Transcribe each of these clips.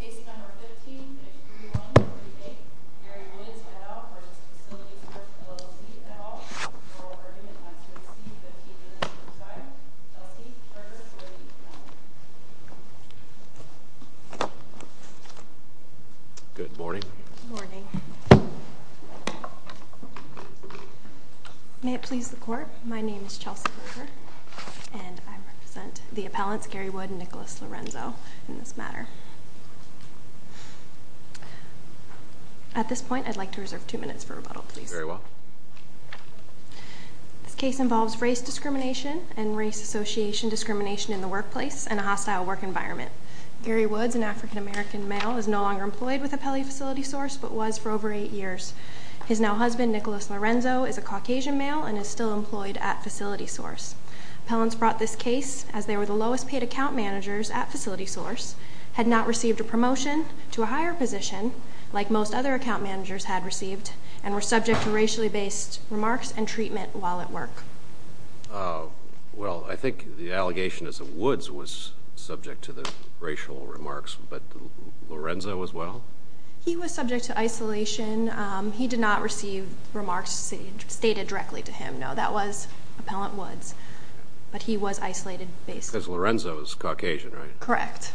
Case No. 15-3138 Gary Woods v. FacilitySource LLC, et al. Oral Argument on 2C-15-25 Chelsea Burgess v. Woods Good morning. Good morning. May it please the court, my name is Chelsea Burgess and I represent the appellants Gary Woods and Nicholas Lorenzo in this matter. At this point, I'd like to reserve two minutes for rebuttal, please. Very well. This case involves race discrimination and race association discrimination in the workplace and a hostile work environment. Gary Woods, an African American male, is no longer employed with Appellee FacilitySource but was for over eight years. His now husband, Nicholas Lorenzo, is a Caucasian male and is still employed at FacilitySource. Appellants brought this case as they were the lowest paid account managers at FacilitySource, had not received a promotion to a higher position like most other account managers had received, and were subject to racially based remarks and treatment while at work. Well, I think the allegation is that Woods was subject to the racial remarks, but Lorenzo as well? He was subject to isolation. He did not receive remarks stated directly to him. No, that was Appellant Woods, but he was isolated based. Because Lorenzo is Caucasian, right? Correct.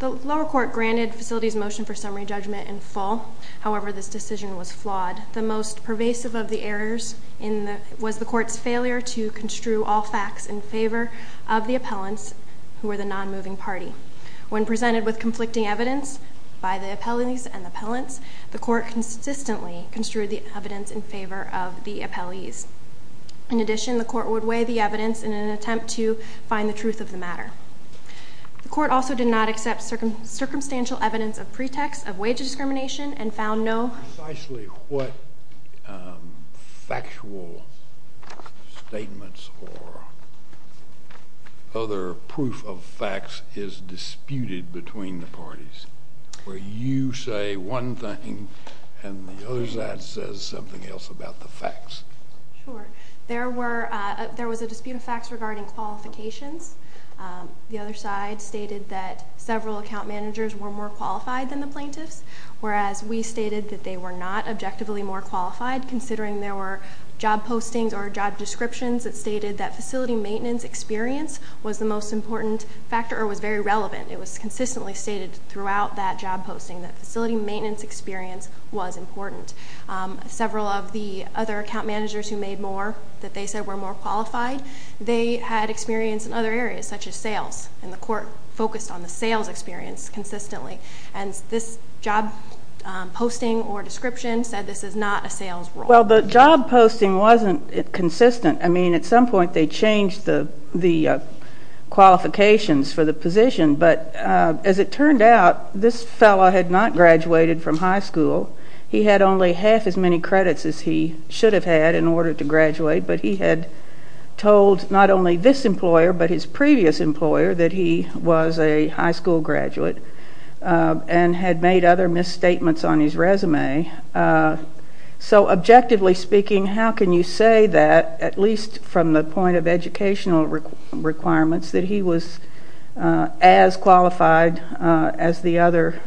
The lower court granted FacilitySource's motion for summary judgment in full. However, this decision was flawed. The most pervasive of the errors was the court's failure to construe all facts in favor of the appellants who were the non-moving party. When presented with conflicting evidence by the appellants and the appellants, the court consistently construed the evidence in favor of the appellees. In addition, the court would weigh the evidence in an attempt to find the truth of the matter. The court also did not accept circumstantial evidence of pretext of wage discrimination and found no... between the parties, where you say one thing and the other side says something else about the facts. Sure. There was a dispute of facts regarding qualifications. The other side stated that several account managers were more qualified than the plaintiffs, whereas we stated that they were not objectively more qualified, considering there were job postings or job descriptions that stated that facility maintenance experience was the most important factor or was very relevant. It was consistently stated throughout that job posting that facility maintenance experience was important. Several of the other account managers who made more that they said were more qualified, they had experience in other areas, such as sales, and the court focused on the sales experience consistently. And this job posting or description said this is not a sales role. Well, the job posting wasn't consistent. I mean, at some point they changed the qualifications for the position, but as it turned out, this fellow had not graduated from high school. He had only half as many credits as he should have had in order to graduate, but he had told not only this employer but his previous employer that he was a high school graduate and had made other misstatements on his resume. So objectively speaking, how can you say that, at least from the point of educational requirements, that he was as qualified as the other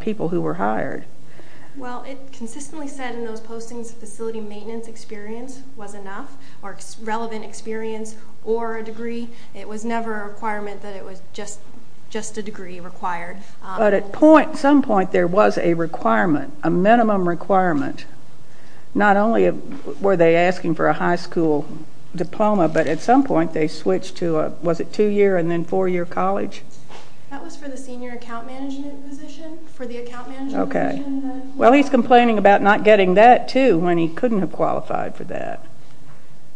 people who were hired? Well, it consistently said in those postings that facility maintenance experience was enough or relevant experience or a degree. It was never a requirement that it was just a degree required. But at some point there was a requirement, a minimum requirement. Not only were they asking for a high school diploma, but at some point they switched to a, was it two-year and then four-year college? That was for the senior account management position, for the account management position. Well, he's complaining about not getting that, too, when he couldn't have qualified for that.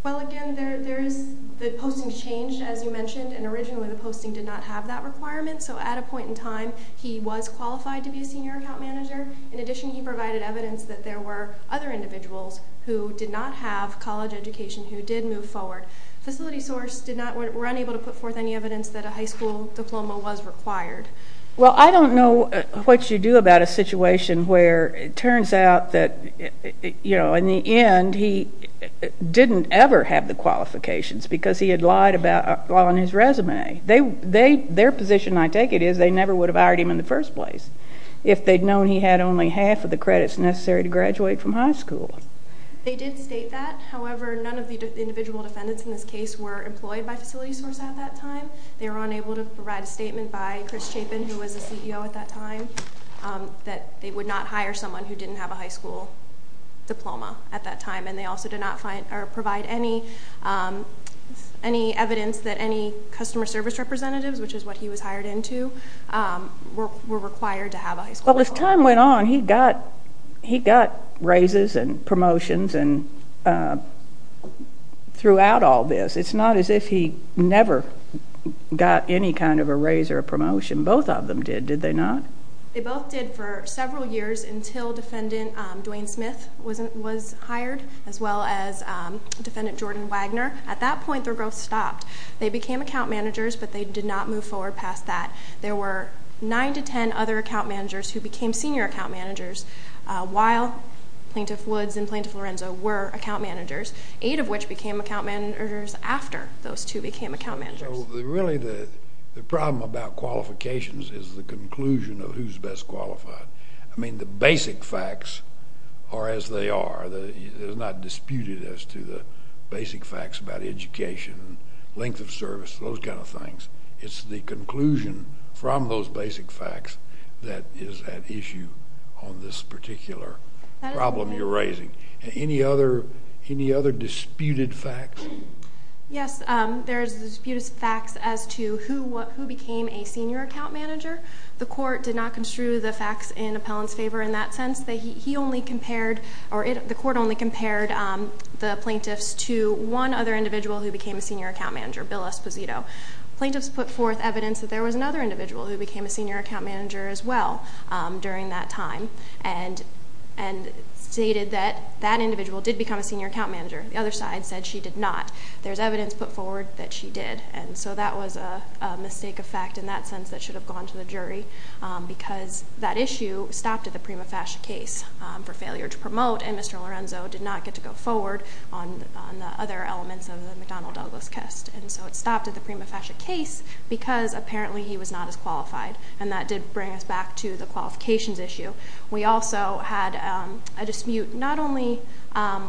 Well, again, the postings changed, as you mentioned, and originally the posting did not have that requirement. So at a point in time he was qualified to be a senior account manager. In addition, he provided evidence that there were other individuals who did not have college education who did move forward. FacilitySource were unable to put forth any evidence that a high school diploma was required. Well, I don't know what you do about a situation where it turns out that, you know, in the end he didn't ever have the qualifications because he had lied on his resume. Their position, I take it, is they never would have hired him in the first place if they'd known he had only half of the credits necessary to graduate from high school. They did state that. However, none of the individual defendants in this case were employed by FacilitySource at that time. They were unable to provide a statement by Chris Chapin, who was the CEO at that time, that they would not hire someone who didn't have a high school diploma at that time. And they also did not provide any evidence that any customer service representatives, which is what he was hired into, were required to have a high school diploma. Well, as time went on, he got raises and promotions throughout all this. It's not as if he never got any kind of a raise or a promotion. Both of them did, did they not? They both did for several years until Defendant Dwayne Smith was hired, as well as Defendant Jordan Wagner. At that point, their growth stopped. They became account managers, but they did not move forward past that. There were nine to ten other account managers who became senior account managers while Plaintiff Woods and Plaintiff Lorenzo were account managers, eight of which became account managers after those two became account managers. Really, the problem about qualifications is the conclusion of who's best qualified. I mean, the basic facts are as they are. It is not disputed as to the basic facts about education, length of service, those kind of things. It's the conclusion from those basic facts that is at issue on this particular problem you're raising. Any other disputed facts? Yes, there's disputed facts as to who became a senior account manager. The court did not construe the facts in Appellant's favor in that sense. He only compared, or the court only compared the plaintiffs to one other individual who became a senior account manager, Bill Esposito. Plaintiffs put forth evidence that there was another individual who became a senior account manager as well during that time and stated that that individual did become a senior account manager. The other side said she did not. There's evidence put forward that she did. And so that was a mistake of fact in that sense that should have gone to the jury because that issue stopped at the Prima Fascia case for failure to promote, and Mr. Lorenzo did not get to go forward on the other elements of the McDonnell-Douglas test. And so it stopped at the Prima Fascia case because apparently he was not as qualified, and that did bring us back to the qualifications issue. We also had a dispute not only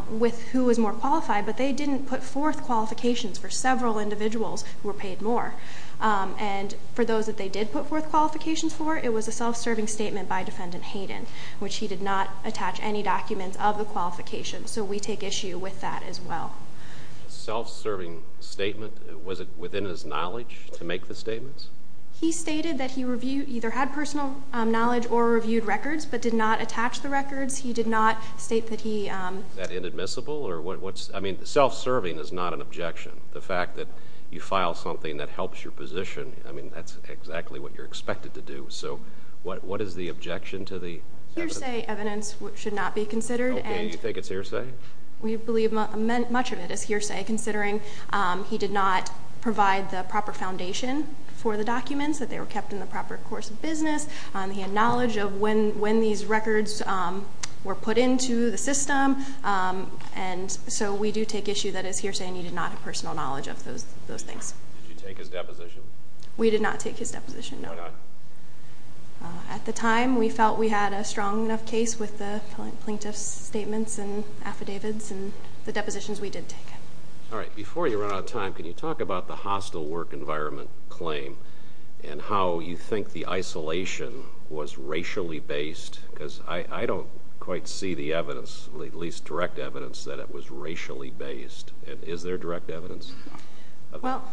with who was more qualified, but they didn't put forth qualifications for several individuals who were paid more. And for those that they did put forth qualifications for, it was a self-serving statement by Defendant Hayden, which he did not attach any documents of the qualifications, so we take issue with that as well. Self-serving statement, was it within his knowledge to make the statements? He stated that he either had personal knowledge or reviewed records, but did not attach the records. He did not state that he... Is that inadmissible? I mean, self-serving is not an objection. The fact that you file something that helps your position, I mean, that's exactly what you're expected to do. So what is the objection to the evidence? Hearsay evidence should not be considered. Okay, you think it's hearsay? We believe much of it is hearsay, considering he did not provide the proper foundation for the documents, that they were kept in the proper course of business. He had knowledge of when these records were put into the system, and so we do take issue that it's hearsay and he did not have personal knowledge of those things. Did you take his deposition? We did not take his deposition, no. Why not? At the time, we felt we had a strong enough case with the plaintiff's statements and affidavits and the depositions we did take. All right, before you run out of time, can you talk about the hostile work environment claim and how you think the isolation was racially based? Because I don't quite see the evidence, at least direct evidence, that it was racially based. Is there direct evidence? Well,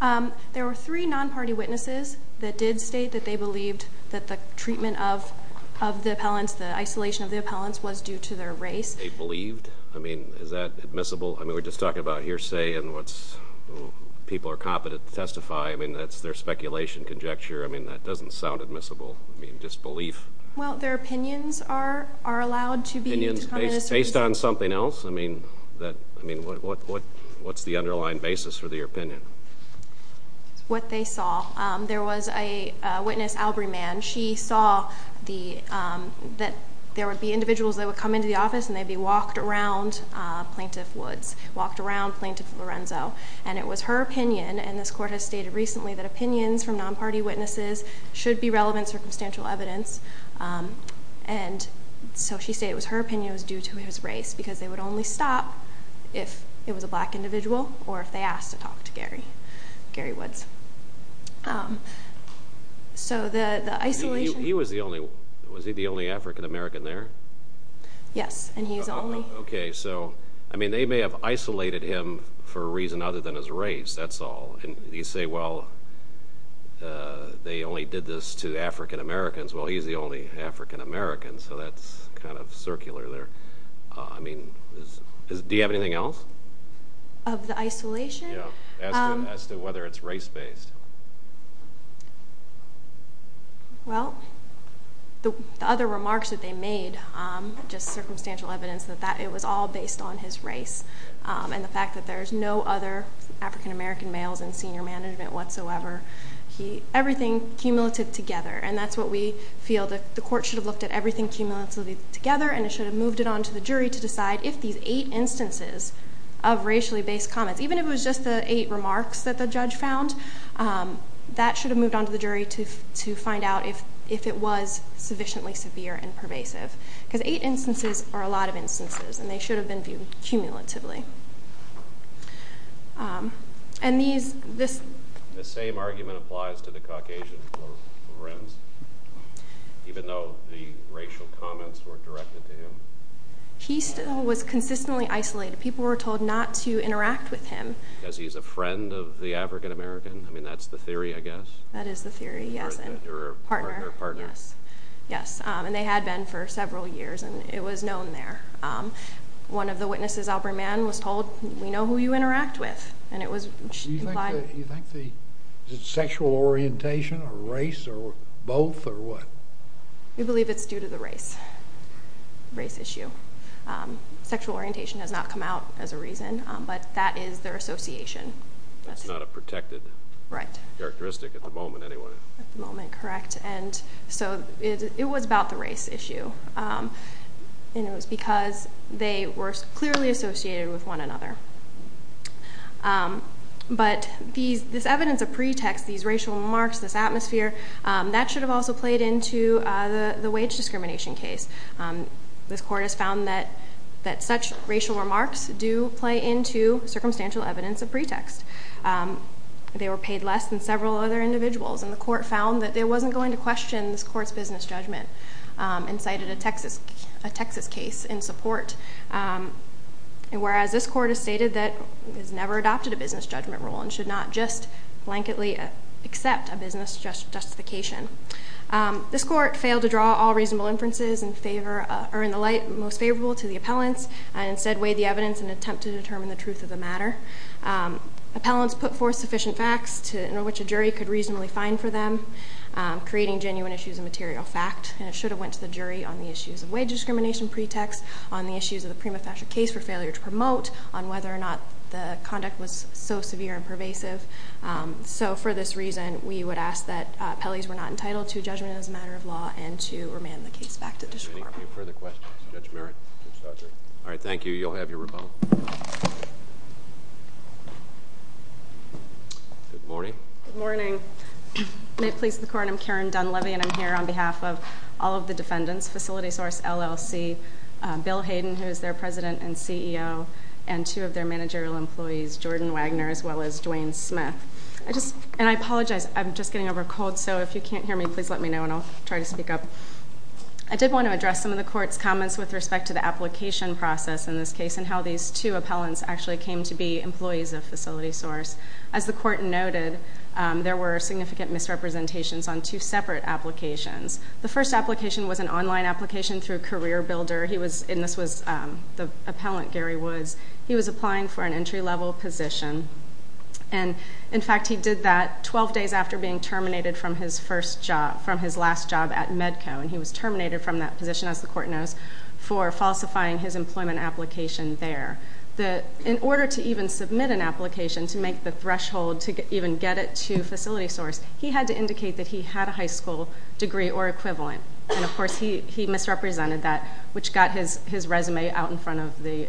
there were three non-party witnesses that did state that they believed that the treatment of the appellants, the isolation of the appellants, was due to their race. They believed? I mean, is that admissible? I mean, we're just talking about hearsay and what people are competent to testify. I mean, that's their speculation, conjecture. I mean, that doesn't sound admissible. I mean, disbelief. Well, their opinions are allowed to be used. Opinions based on something else? I mean, what's the underlying basis for the opinion? What they saw. There was a witness, Albrey Mann. She saw that there would be individuals that would come into the office and they'd be walked around Plaintiff Woods, walked around Plaintiff Lorenzo. And it was her opinion, and this Court has stated recently, that opinions from non-party witnesses should be relevant circumstantial evidence. And so she said it was her opinion it was due to his race because they would only stop if it was a black individual or if they asked to talk to Gary Woods. He was the only African American there? Yes, and he was the only. Okay, so they may have isolated him for a reason other than his race, that's all. And you say, well, they only did this to African Americans. Well, he's the only African American, so that's kind of circular there. I mean, do you have anything else? Of the isolation? Yeah, as to whether it's race-based. Well, the other remarks that they made, just circumstantial evidence, that it was all based on his race and the fact that there's no other African American males in senior management whatsoever. Everything cumulative together, and that's what we feel. The Court should have looked at everything cumulatively together, and it should have moved it on to the jury to decide if these eight instances of racially-based comments, even if it was just the eight remarks that the judge found, that should have moved on to the jury to find out if it was sufficiently severe and pervasive. Because eight instances are a lot of instances, and they should have been viewed cumulatively. The same argument applies to the Caucasian for Renz, even though the racial comments were directed to him? He still was consistently isolated. People were told not to interact with him. Because he's a friend of the African American? I mean, that's the theory, I guess. That is the theory, yes. Or a partner. Yes, and they had been for several years, and it was known there. One of the witnesses, Aubrey Mann, was told, we know who you interact with, and it was implied. You think the sexual orientation or race or both or what? We believe it's due to the race, race issue. Sexual orientation has not come out as a reason, but that is their association. That's not a protected characteristic at the moment anyway. At the moment, correct. And so it was about the race issue. And it was because they were clearly associated with one another. But this evidence of pretext, these racial remarks, this atmosphere, that should have also played into the wage discrimination case. This court has found that such racial remarks do play into circumstantial evidence of pretext. They were paid less than several other individuals, and the court found that it wasn't going to question this court's business judgment and cited a Texas case in support, whereas this court has stated that it has never adopted a business judgment rule and should not just blanketly accept a business justification. This court failed to draw all reasonable inferences in the light most favorable to the appellants and instead weighed the evidence in an attempt to determine the truth of the matter. Appellants put forth sufficient facts in which a jury could reasonably find for them, creating genuine issues of material fact. And it should have went to the jury on the issues of wage discrimination pretext, on the issues of the prima facie case for failure to promote, on whether or not the conduct was so severe and pervasive. So for this reason, we would ask that Pelley's were not entitled to judgment as a matter of law and to remand the case back to the district court. Are there any further questions? Judge Merritt? All right, thank you. You'll have your rebuttal. Good morning. Good morning. May it please the court, I'm Karen Dunleavy, and I'm here on behalf of all of the defendants, Facility Source, LLC, Bill Hayden, who is their president and CEO, and two of their managerial employees, Jordan Wagner as well as Dwayne Smith. And I apologize, I'm just getting over a cold, so if you can't hear me, please let me know and I'll try to speak up. I did want to address some of the court's comments with respect to the application process in this case and how these two appellants actually came to be employees of Facility Source. As the court noted, there were significant misrepresentations on two separate applications. The first application was an online application through CareerBuilder, and this was the appellant, Gary Woods. He was applying for an entry-level position, and in fact he did that 12 days after being terminated from his last job at Medco, and he was terminated from that position, as the court knows, for falsifying his employment application there. In order to even submit an application to make the threshold to even get it to Facility Source, he had to indicate that he had a high school degree or equivalent, and of course he misrepresented that, which got his resume out in front of the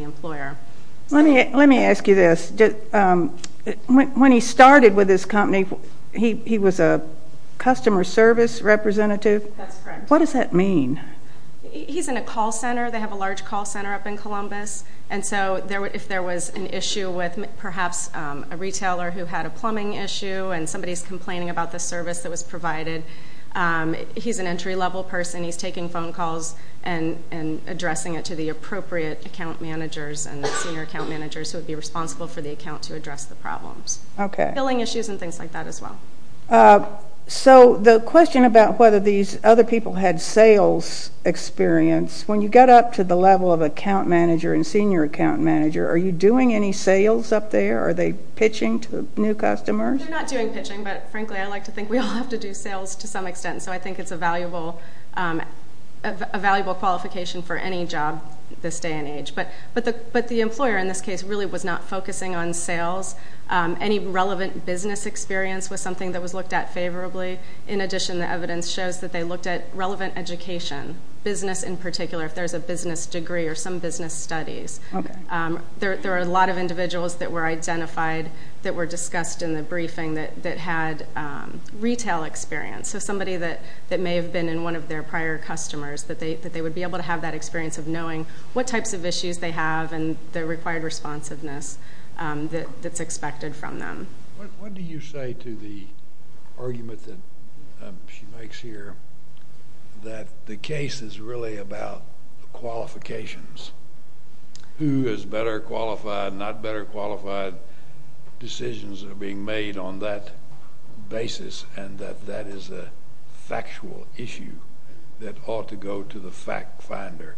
employer. Let me ask you this. When he started with this company, he was a customer service representative? That's correct. What does that mean? He's in a call center. They have a large call center up in Columbus, and so if there was an issue with perhaps a retailer who had a plumbing issue and somebody's complaining about the service that was provided, he's an entry-level person. He's taking phone calls and addressing it to the appropriate account managers and the senior account managers who would be responsible for the account to address the problems. Okay. Billing issues and things like that as well. So the question about whether these other people had sales experience, when you get up to the level of account manager and senior account manager, are you doing any sales up there? Are they pitching to new customers? They're not doing pitching, but frankly I like to think we all have to do sales to some extent, so I think it's a valuable qualification for any job this day and age. But the employer in this case really was not focusing on sales. Any relevant business experience was something that was looked at favorably. In addition, the evidence shows that they looked at relevant education, business in particular, if there's a business degree or some business studies. Okay. There are a lot of individuals that were identified that were discussed in the briefing that had retail experience, so somebody that may have been in one of their prior customers, that they would be able to have that experience of knowing what types of issues they have and the required responsiveness that's expected from them. What do you say to the argument that she makes here that the case is really about qualifications? Who is better qualified, not better qualified? Decisions are being made on that basis, and that that is a factual issue that ought to go to the fact finder.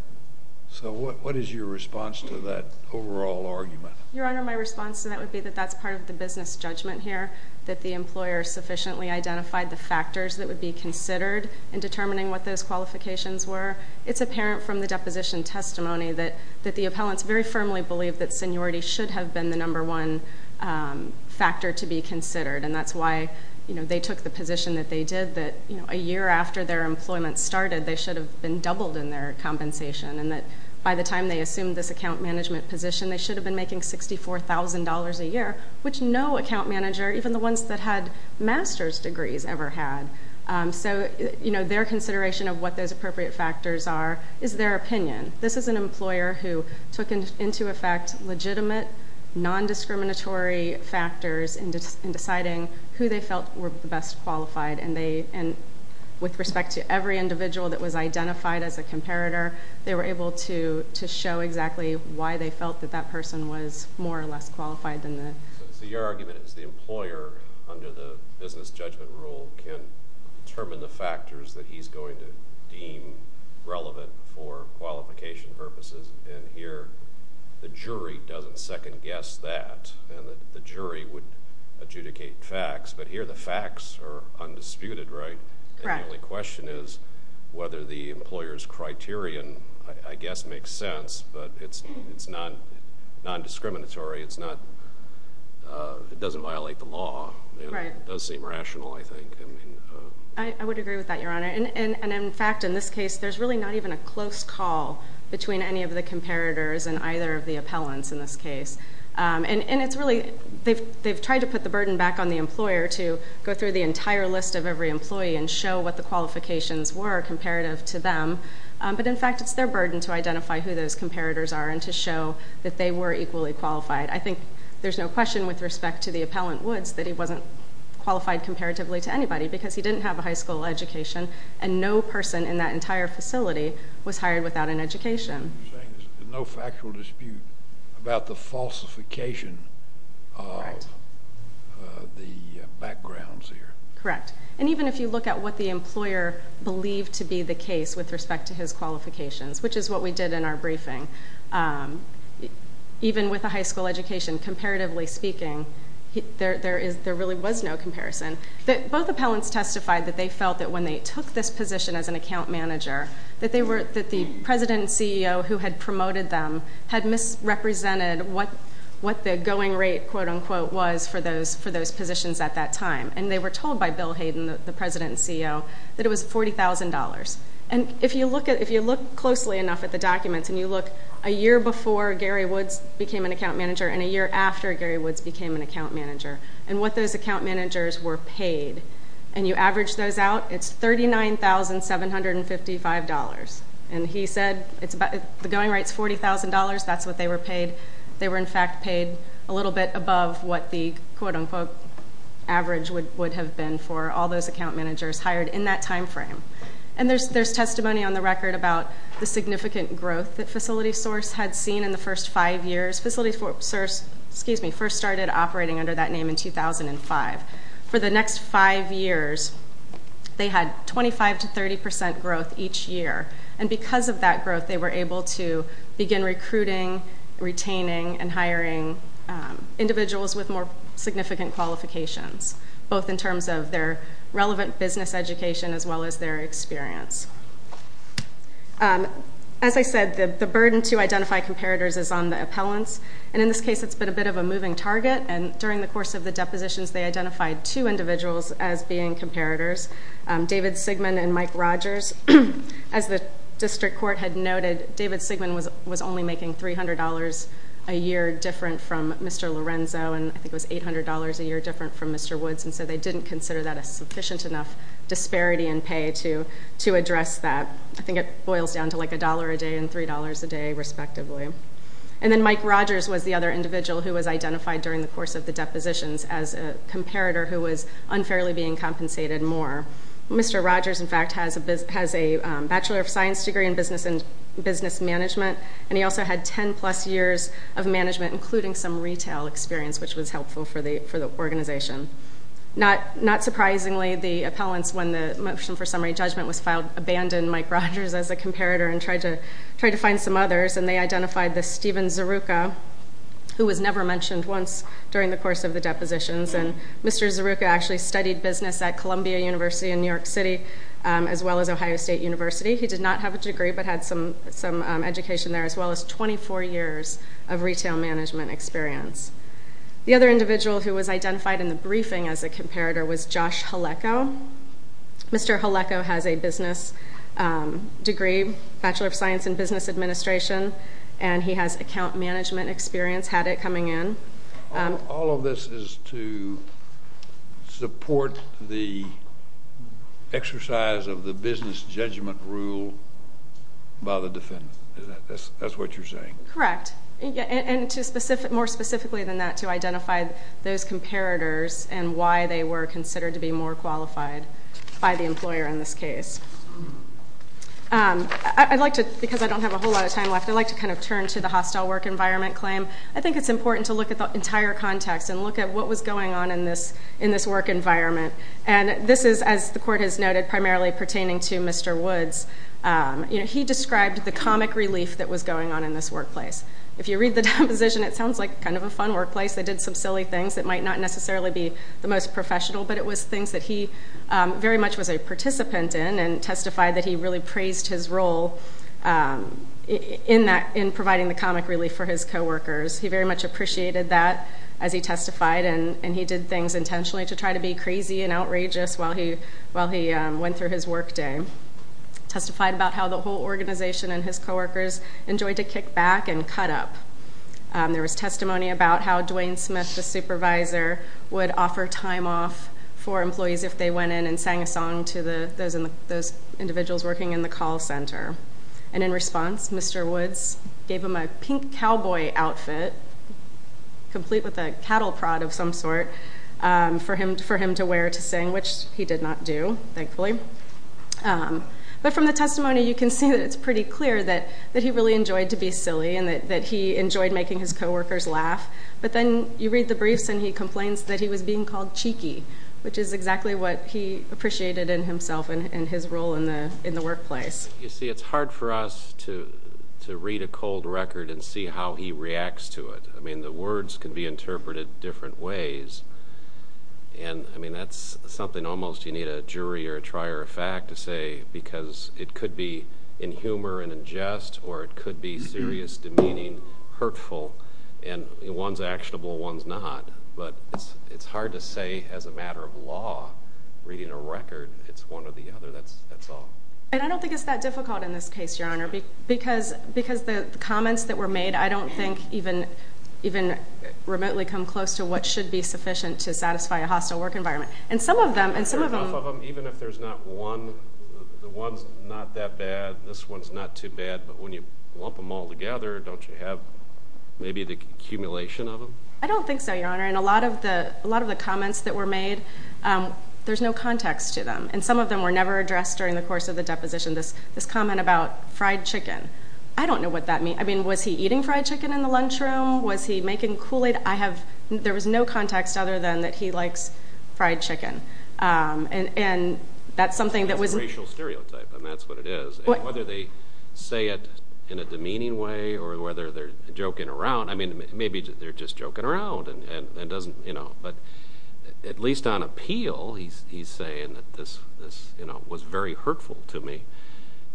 So what is your response to that overall argument? Your Honor, my response to that would be that that's part of the business judgment here, that the employer sufficiently identified the factors that would be considered in determining what those qualifications were. It's apparent from the deposition testimony that the appellants very firmly believed that seniority should have been the number one factor to be considered, and that's why they took the position that they did, that a year after their employment started, they should have been doubled in their compensation, and that by the time they assumed this account management position, they should have been making $64,000 a year, which no account manager, even the ones that had master's degrees, ever had. So their consideration of what those appropriate factors are is their opinion. This is an employer who took into effect legitimate, non-discriminatory factors in deciding who they felt were the best qualified, and with respect to every individual that was identified as a comparator, they were able to show exactly why they felt that that person was more or less qualified. So your argument is the employer, under the business judgment rule, can determine the factors that he's going to deem relevant for qualification purposes, and here the jury doesn't second-guess that, and the jury would adjudicate facts, but here the facts are undisputed, right? The only question is whether the employer's criterion, I guess, makes sense, but it's non-discriminatory. It doesn't violate the law. It does seem rational, I think. I would agree with that, Your Honor, and in fact, in this case, there's really not even a close call between any of the comparators and either of the appellants in this case, and it's really they've tried to put the burden back on the employer to go through the entire list of every employee and show what the qualifications were comparative to them, but in fact it's their burden to identify who those comparators are and to show that they were equally qualified. I think there's no question with respect to the appellant Woods that he wasn't qualified comparatively to anybody because he didn't have a high school education, and no person in that entire facility was hired without an education. So you're saying there's no factual dispute about the falsification of the backgrounds here? Correct. And even if you look at what the employer believed to be the case with respect to his qualifications, which is what we did in our briefing, even with a high school education, comparatively speaking, there really was no comparison. Both appellants testified that they felt that when they took this position as an account manager that the president and CEO who had promoted them had misrepresented what the going rate, quote-unquote, was for those positions at that time, and they were told by Bill Hayden, the president and CEO, that it was $40,000. And if you look closely enough at the documents and you look a year before Gary Woods became an account manager and a year after Gary Woods became an account manager and what those account managers were paid, and you average those out, it's $39,755. And he said the going rate's $40,000. That's what they were paid. They were, in fact, paid a little bit above what the, quote-unquote, average would have been for all those account managers hired in that time frame. And there's testimony on the record about the significant growth that FacilitySource had seen in the first five years. FacilitySource first started operating under that name in 2005. For the next five years, they had 25% to 30% growth each year, and because of that growth they were able to begin recruiting, retaining, and hiring individuals with more significant qualifications, both in terms of their relevant business education as well as their experience. As I said, the burden to identify comparators is on the appellants, and in this case it's been a bit of a moving target, and during the course of the depositions they identified two individuals as being comparators, David Sigman and Mike Rogers. As the district court had noted, David Sigman was only making $300 a year different from Mr. Lorenzo, and I think it was $800 a year different from Mr. Woods, and so they didn't consider that a sufficient enough disparity in pay to address that. I think it boils down to like $1 a day and $3 a day, respectively. And then Mike Rogers was the other individual who was identified during the course of the depositions as a comparator who was unfairly being compensated more. Mr. Rogers, in fact, has a Bachelor of Science degree in business management, and he also had 10-plus years of management, including some retail experience, which was helpful for the organization. Not surprisingly, the appellants, when the motion for summary judgment was filed, abandoned Mike Rogers as a comparator and tried to find some others, and they identified the Stephen Zeruca, who was never mentioned once during the course of the depositions. And Mr. Zeruca actually studied business at Columbia University in New York City as well as Ohio State University. He did not have a degree but had some education there as well as 24 years of retail management experience. The other individual who was identified in the briefing as a comparator was Josh Haleco. Mr. Haleco has a business degree, Bachelor of Science in business administration, and he has account management experience, had it coming in. All of this is to support the exercise of the business judgment rule by the defendant. Is that what you're saying? Correct. And more specifically than that, to identify those comparators and why they were considered to be more qualified by the employer in this case. I'd like to, because I don't have a whole lot of time left, I'd like to kind of turn to the hostile work environment claim. I think it's important to look at the entire context and look at what was going on in this work environment. And this is, as the court has noted, primarily pertaining to Mr. Woods. He described the comic relief that was going on in this workplace. If you read the deposition, it sounds like kind of a fun workplace. They did some silly things that might not necessarily be the most professional, but it was things that he very much was a participant in and testified that he really praised his role in providing the comic relief for his coworkers. He very much appreciated that as he testified, and he did things intentionally to try to be crazy and outrageous while he went through his workday. Testified about how the whole organization and his coworkers enjoyed to kick back and cut up. There was testimony about how Dwayne Smith, the supervisor, would offer time off for employees if they went in and sang a song to those individuals working in the call center. And in response, Mr. Woods gave them a pink cowboy outfit, complete with a cattle prod of some sort, for him to wear to sing, which he did not do, thankfully. But from the testimony, you can see that it's pretty clear that he really enjoyed to be silly and that he enjoyed making his coworkers laugh. But then you read the briefs and he complains that he was being called cheeky, which is exactly what he appreciated in himself and his role in the workplace. You see, it's hard for us to read a cold record and see how he reacts to it. I mean, the words can be interpreted different ways. And, I mean, that's something almost you need a jury or a trier of fact to say, because it could be in humor and in jest or it could be serious, demeaning, hurtful. And one's actionable, one's not. But it's hard to say as a matter of law, reading a record, it's one or the other. That's all. And I don't think it's that difficult in this case, Your Honor, because the comments that were made I don't think even remotely come close to what should be sufficient to satisfy a hostile work environment. Even if there's not one, the one's not that bad, this one's not too bad, but when you lump them all together, don't you have maybe the accumulation of them? I don't think so, Your Honor. And a lot of the comments that were made, there's no context to them. And some of them were never addressed during the course of the deposition. This comment about fried chicken, I don't know what that means. I mean, was he eating fried chicken in the lunchroom? Was he making Kool-Aid? There was no context other than that he likes fried chicken. That's a racial stereotype, and that's what it is. Whether they say it in a demeaning way or whether they're joking around, I mean, maybe they're just joking around and doesn't, you know. But at least on appeal, he's saying that this was very hurtful to me,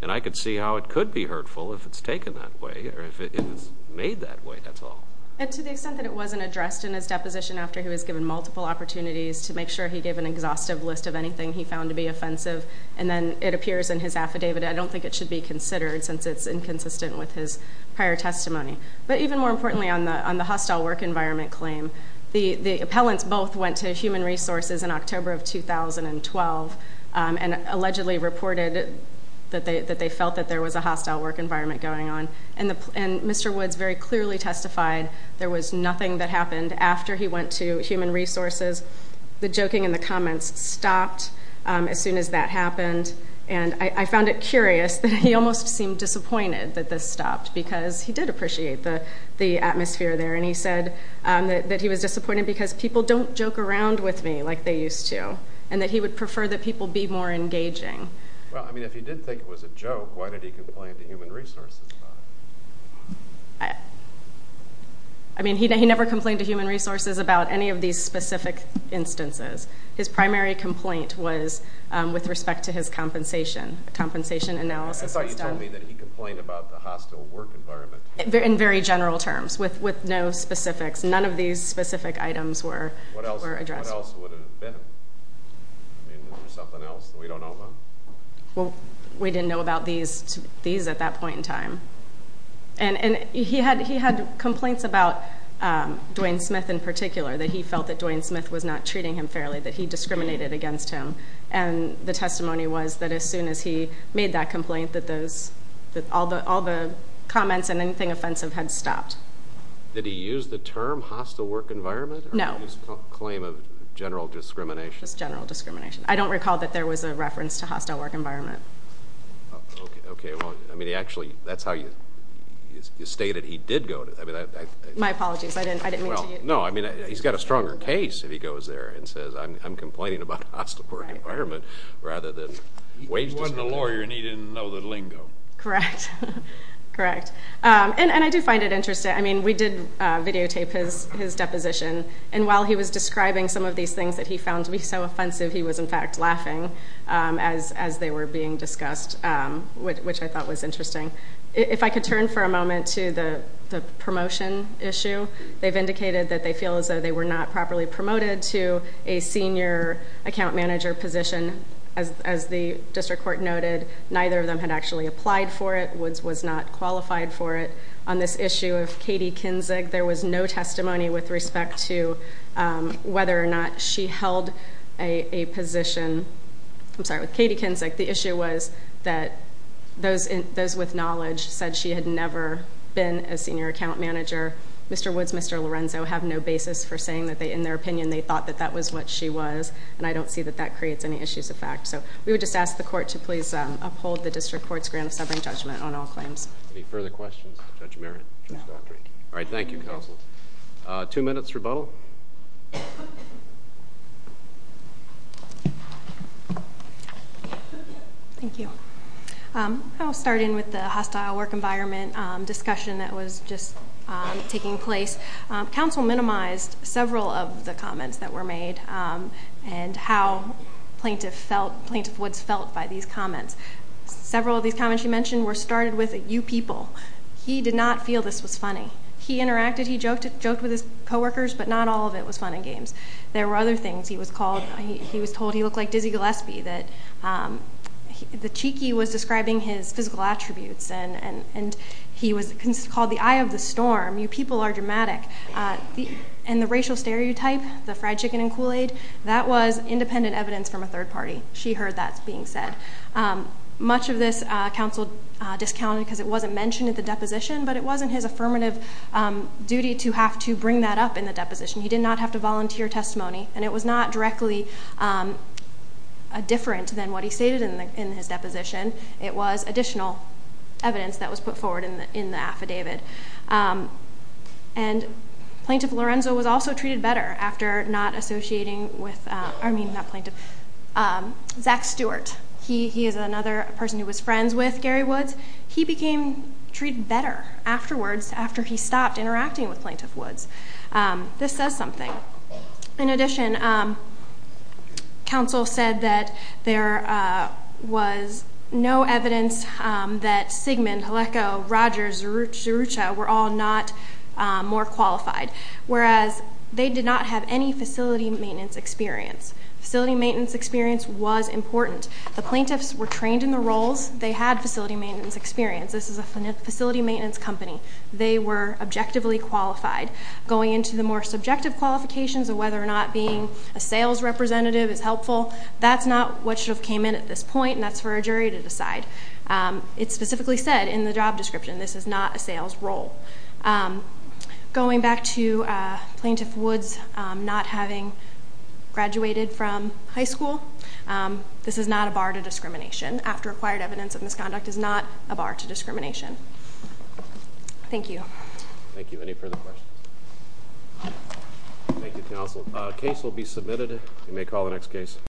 and I could see how it could be hurtful if it's taken that way or if it was made that way, that's all. And to the extent that it wasn't addressed in his deposition after he was given multiple opportunities to make sure he gave an exhaustive list of anything he found to be offensive, and then it appears in his affidavit, I don't think it should be considered since it's inconsistent with his prior testimony. But even more importantly, on the hostile work environment claim, the appellants both went to Human Resources in October of 2012 and allegedly reported that they felt that there was a hostile work environment going on. And Mr. Woods very clearly testified there was nothing that happened after he went to Human Resources. The joking in the comments stopped as soon as that happened, and I found it curious that he almost seemed disappointed that this stopped because he did appreciate the atmosphere there, and he said that he was disappointed because people don't joke around with me like they used to and that he would prefer that people be more engaging. Well, I mean, if he did think it was a joke, why did he complain to Human Resources about it? I mean, he never complained to Human Resources about any of these specific instances. His primary complaint was with respect to his compensation analysis. I thought you told me that he complained about the hostile work environment. In very general terms, with no specifics. None of these specific items were addressed. What else would it have been? I mean, is there something else that we don't know about? Well, we didn't know about these at that point in time. And he had complaints about Dwayne Smith in particular, that he felt that Dwayne Smith was not treating him fairly, that he discriminated against him, and the testimony was that as soon as he made that complaint that all the comments and anything offensive had stopped. Did he use the term hostile work environment? No. Or his claim of general discrimination? Just general discrimination. I don't recall that there was a reference to hostile work environment. Okay. Well, I mean, actually, that's how you stated he did go to that. My apologies. I didn't mean to. Well, no. I mean, he's got a stronger case if he goes there and says, I'm complaining about hostile work environment rather than wage discipline. He wasn't a lawyer, and he didn't know the lingo. Correct. Correct. And I do find it interesting. I mean, we did videotape his deposition, and while he was describing some of these things that he found to be so offensive, he was, in fact, laughing as they were being discussed, which I thought was interesting. If I could turn for a moment to the promotion issue. They've indicated that they feel as though they were not properly promoted to a senior account manager position. As the district court noted, neither of them had actually applied for it, was not qualified for it. On this issue of Katie Kinzig, there was no testimony with respect to whether or not she held a position. I'm sorry, with Katie Kinzig, the issue was that those with knowledge said she had never been a senior account manager. Mr. Woods and Mr. Lorenzo have no basis for saying that in their opinion they thought that that was what she was, and I don't see that that creates any issues of fact. So we would just ask the court to please uphold the district court's grant of severing judgment on all claims. Any further questions of Judge Merritt? All right, thank you, counsel. Two minutes rebuttal. Thank you. I'll start in with the hostile work environment discussion that was just taking place. Counsel minimized several of the comments that were made and how Plaintiff Woods felt by these comments. Several of these comments you mentioned were started with, you people, he did not feel this was funny. He interacted, he joked with his coworkers, but not all of it was fun and games. There were other things. He was told he looked like Dizzy Gillespie, that the cheeky was describing his physical attributes, and he was called the eye of the storm. You people are dramatic. And the racial stereotype, the fried chicken and Kool-Aid, that was independent evidence from a third party. She heard that being said. Much of this counsel discounted because it wasn't mentioned at the deposition, but it wasn't his affirmative duty to have to bring that up in the deposition. He did not have to volunteer testimony, and it was not directly different than what he stated in his deposition. It was additional evidence that was put forward in the affidavit. And Plaintiff Lorenzo was also treated better after not associating with, I mean, not Plaintiff, Zach Stewart. He is another person who was friends with Gary Woods. He became treated better afterwards, after he stopped interacting with Plaintiff Woods. This says something. In addition, counsel said that there was no evidence that Sigmund, Halecko, Rogers, Zerucha were all not more qualified, whereas they did not have any facility maintenance experience. Facility maintenance experience was important. The plaintiffs were trained in the roles. They had facility maintenance experience. This is a facility maintenance company. They were objectively qualified. Going into the more subjective qualifications of whether or not being a sales representative is helpful, that's not what should have came in at this point, and that's for a jury to decide. It specifically said in the job description, this is not a sales role. Going back to Plaintiff Woods not having graduated from high school, this is not a bar to discrimination. After acquired evidence of misconduct is not a bar to discrimination. Thank you. Thank you. Any further questions? Thank you, counsel. A case will be submitted. You may call the next case.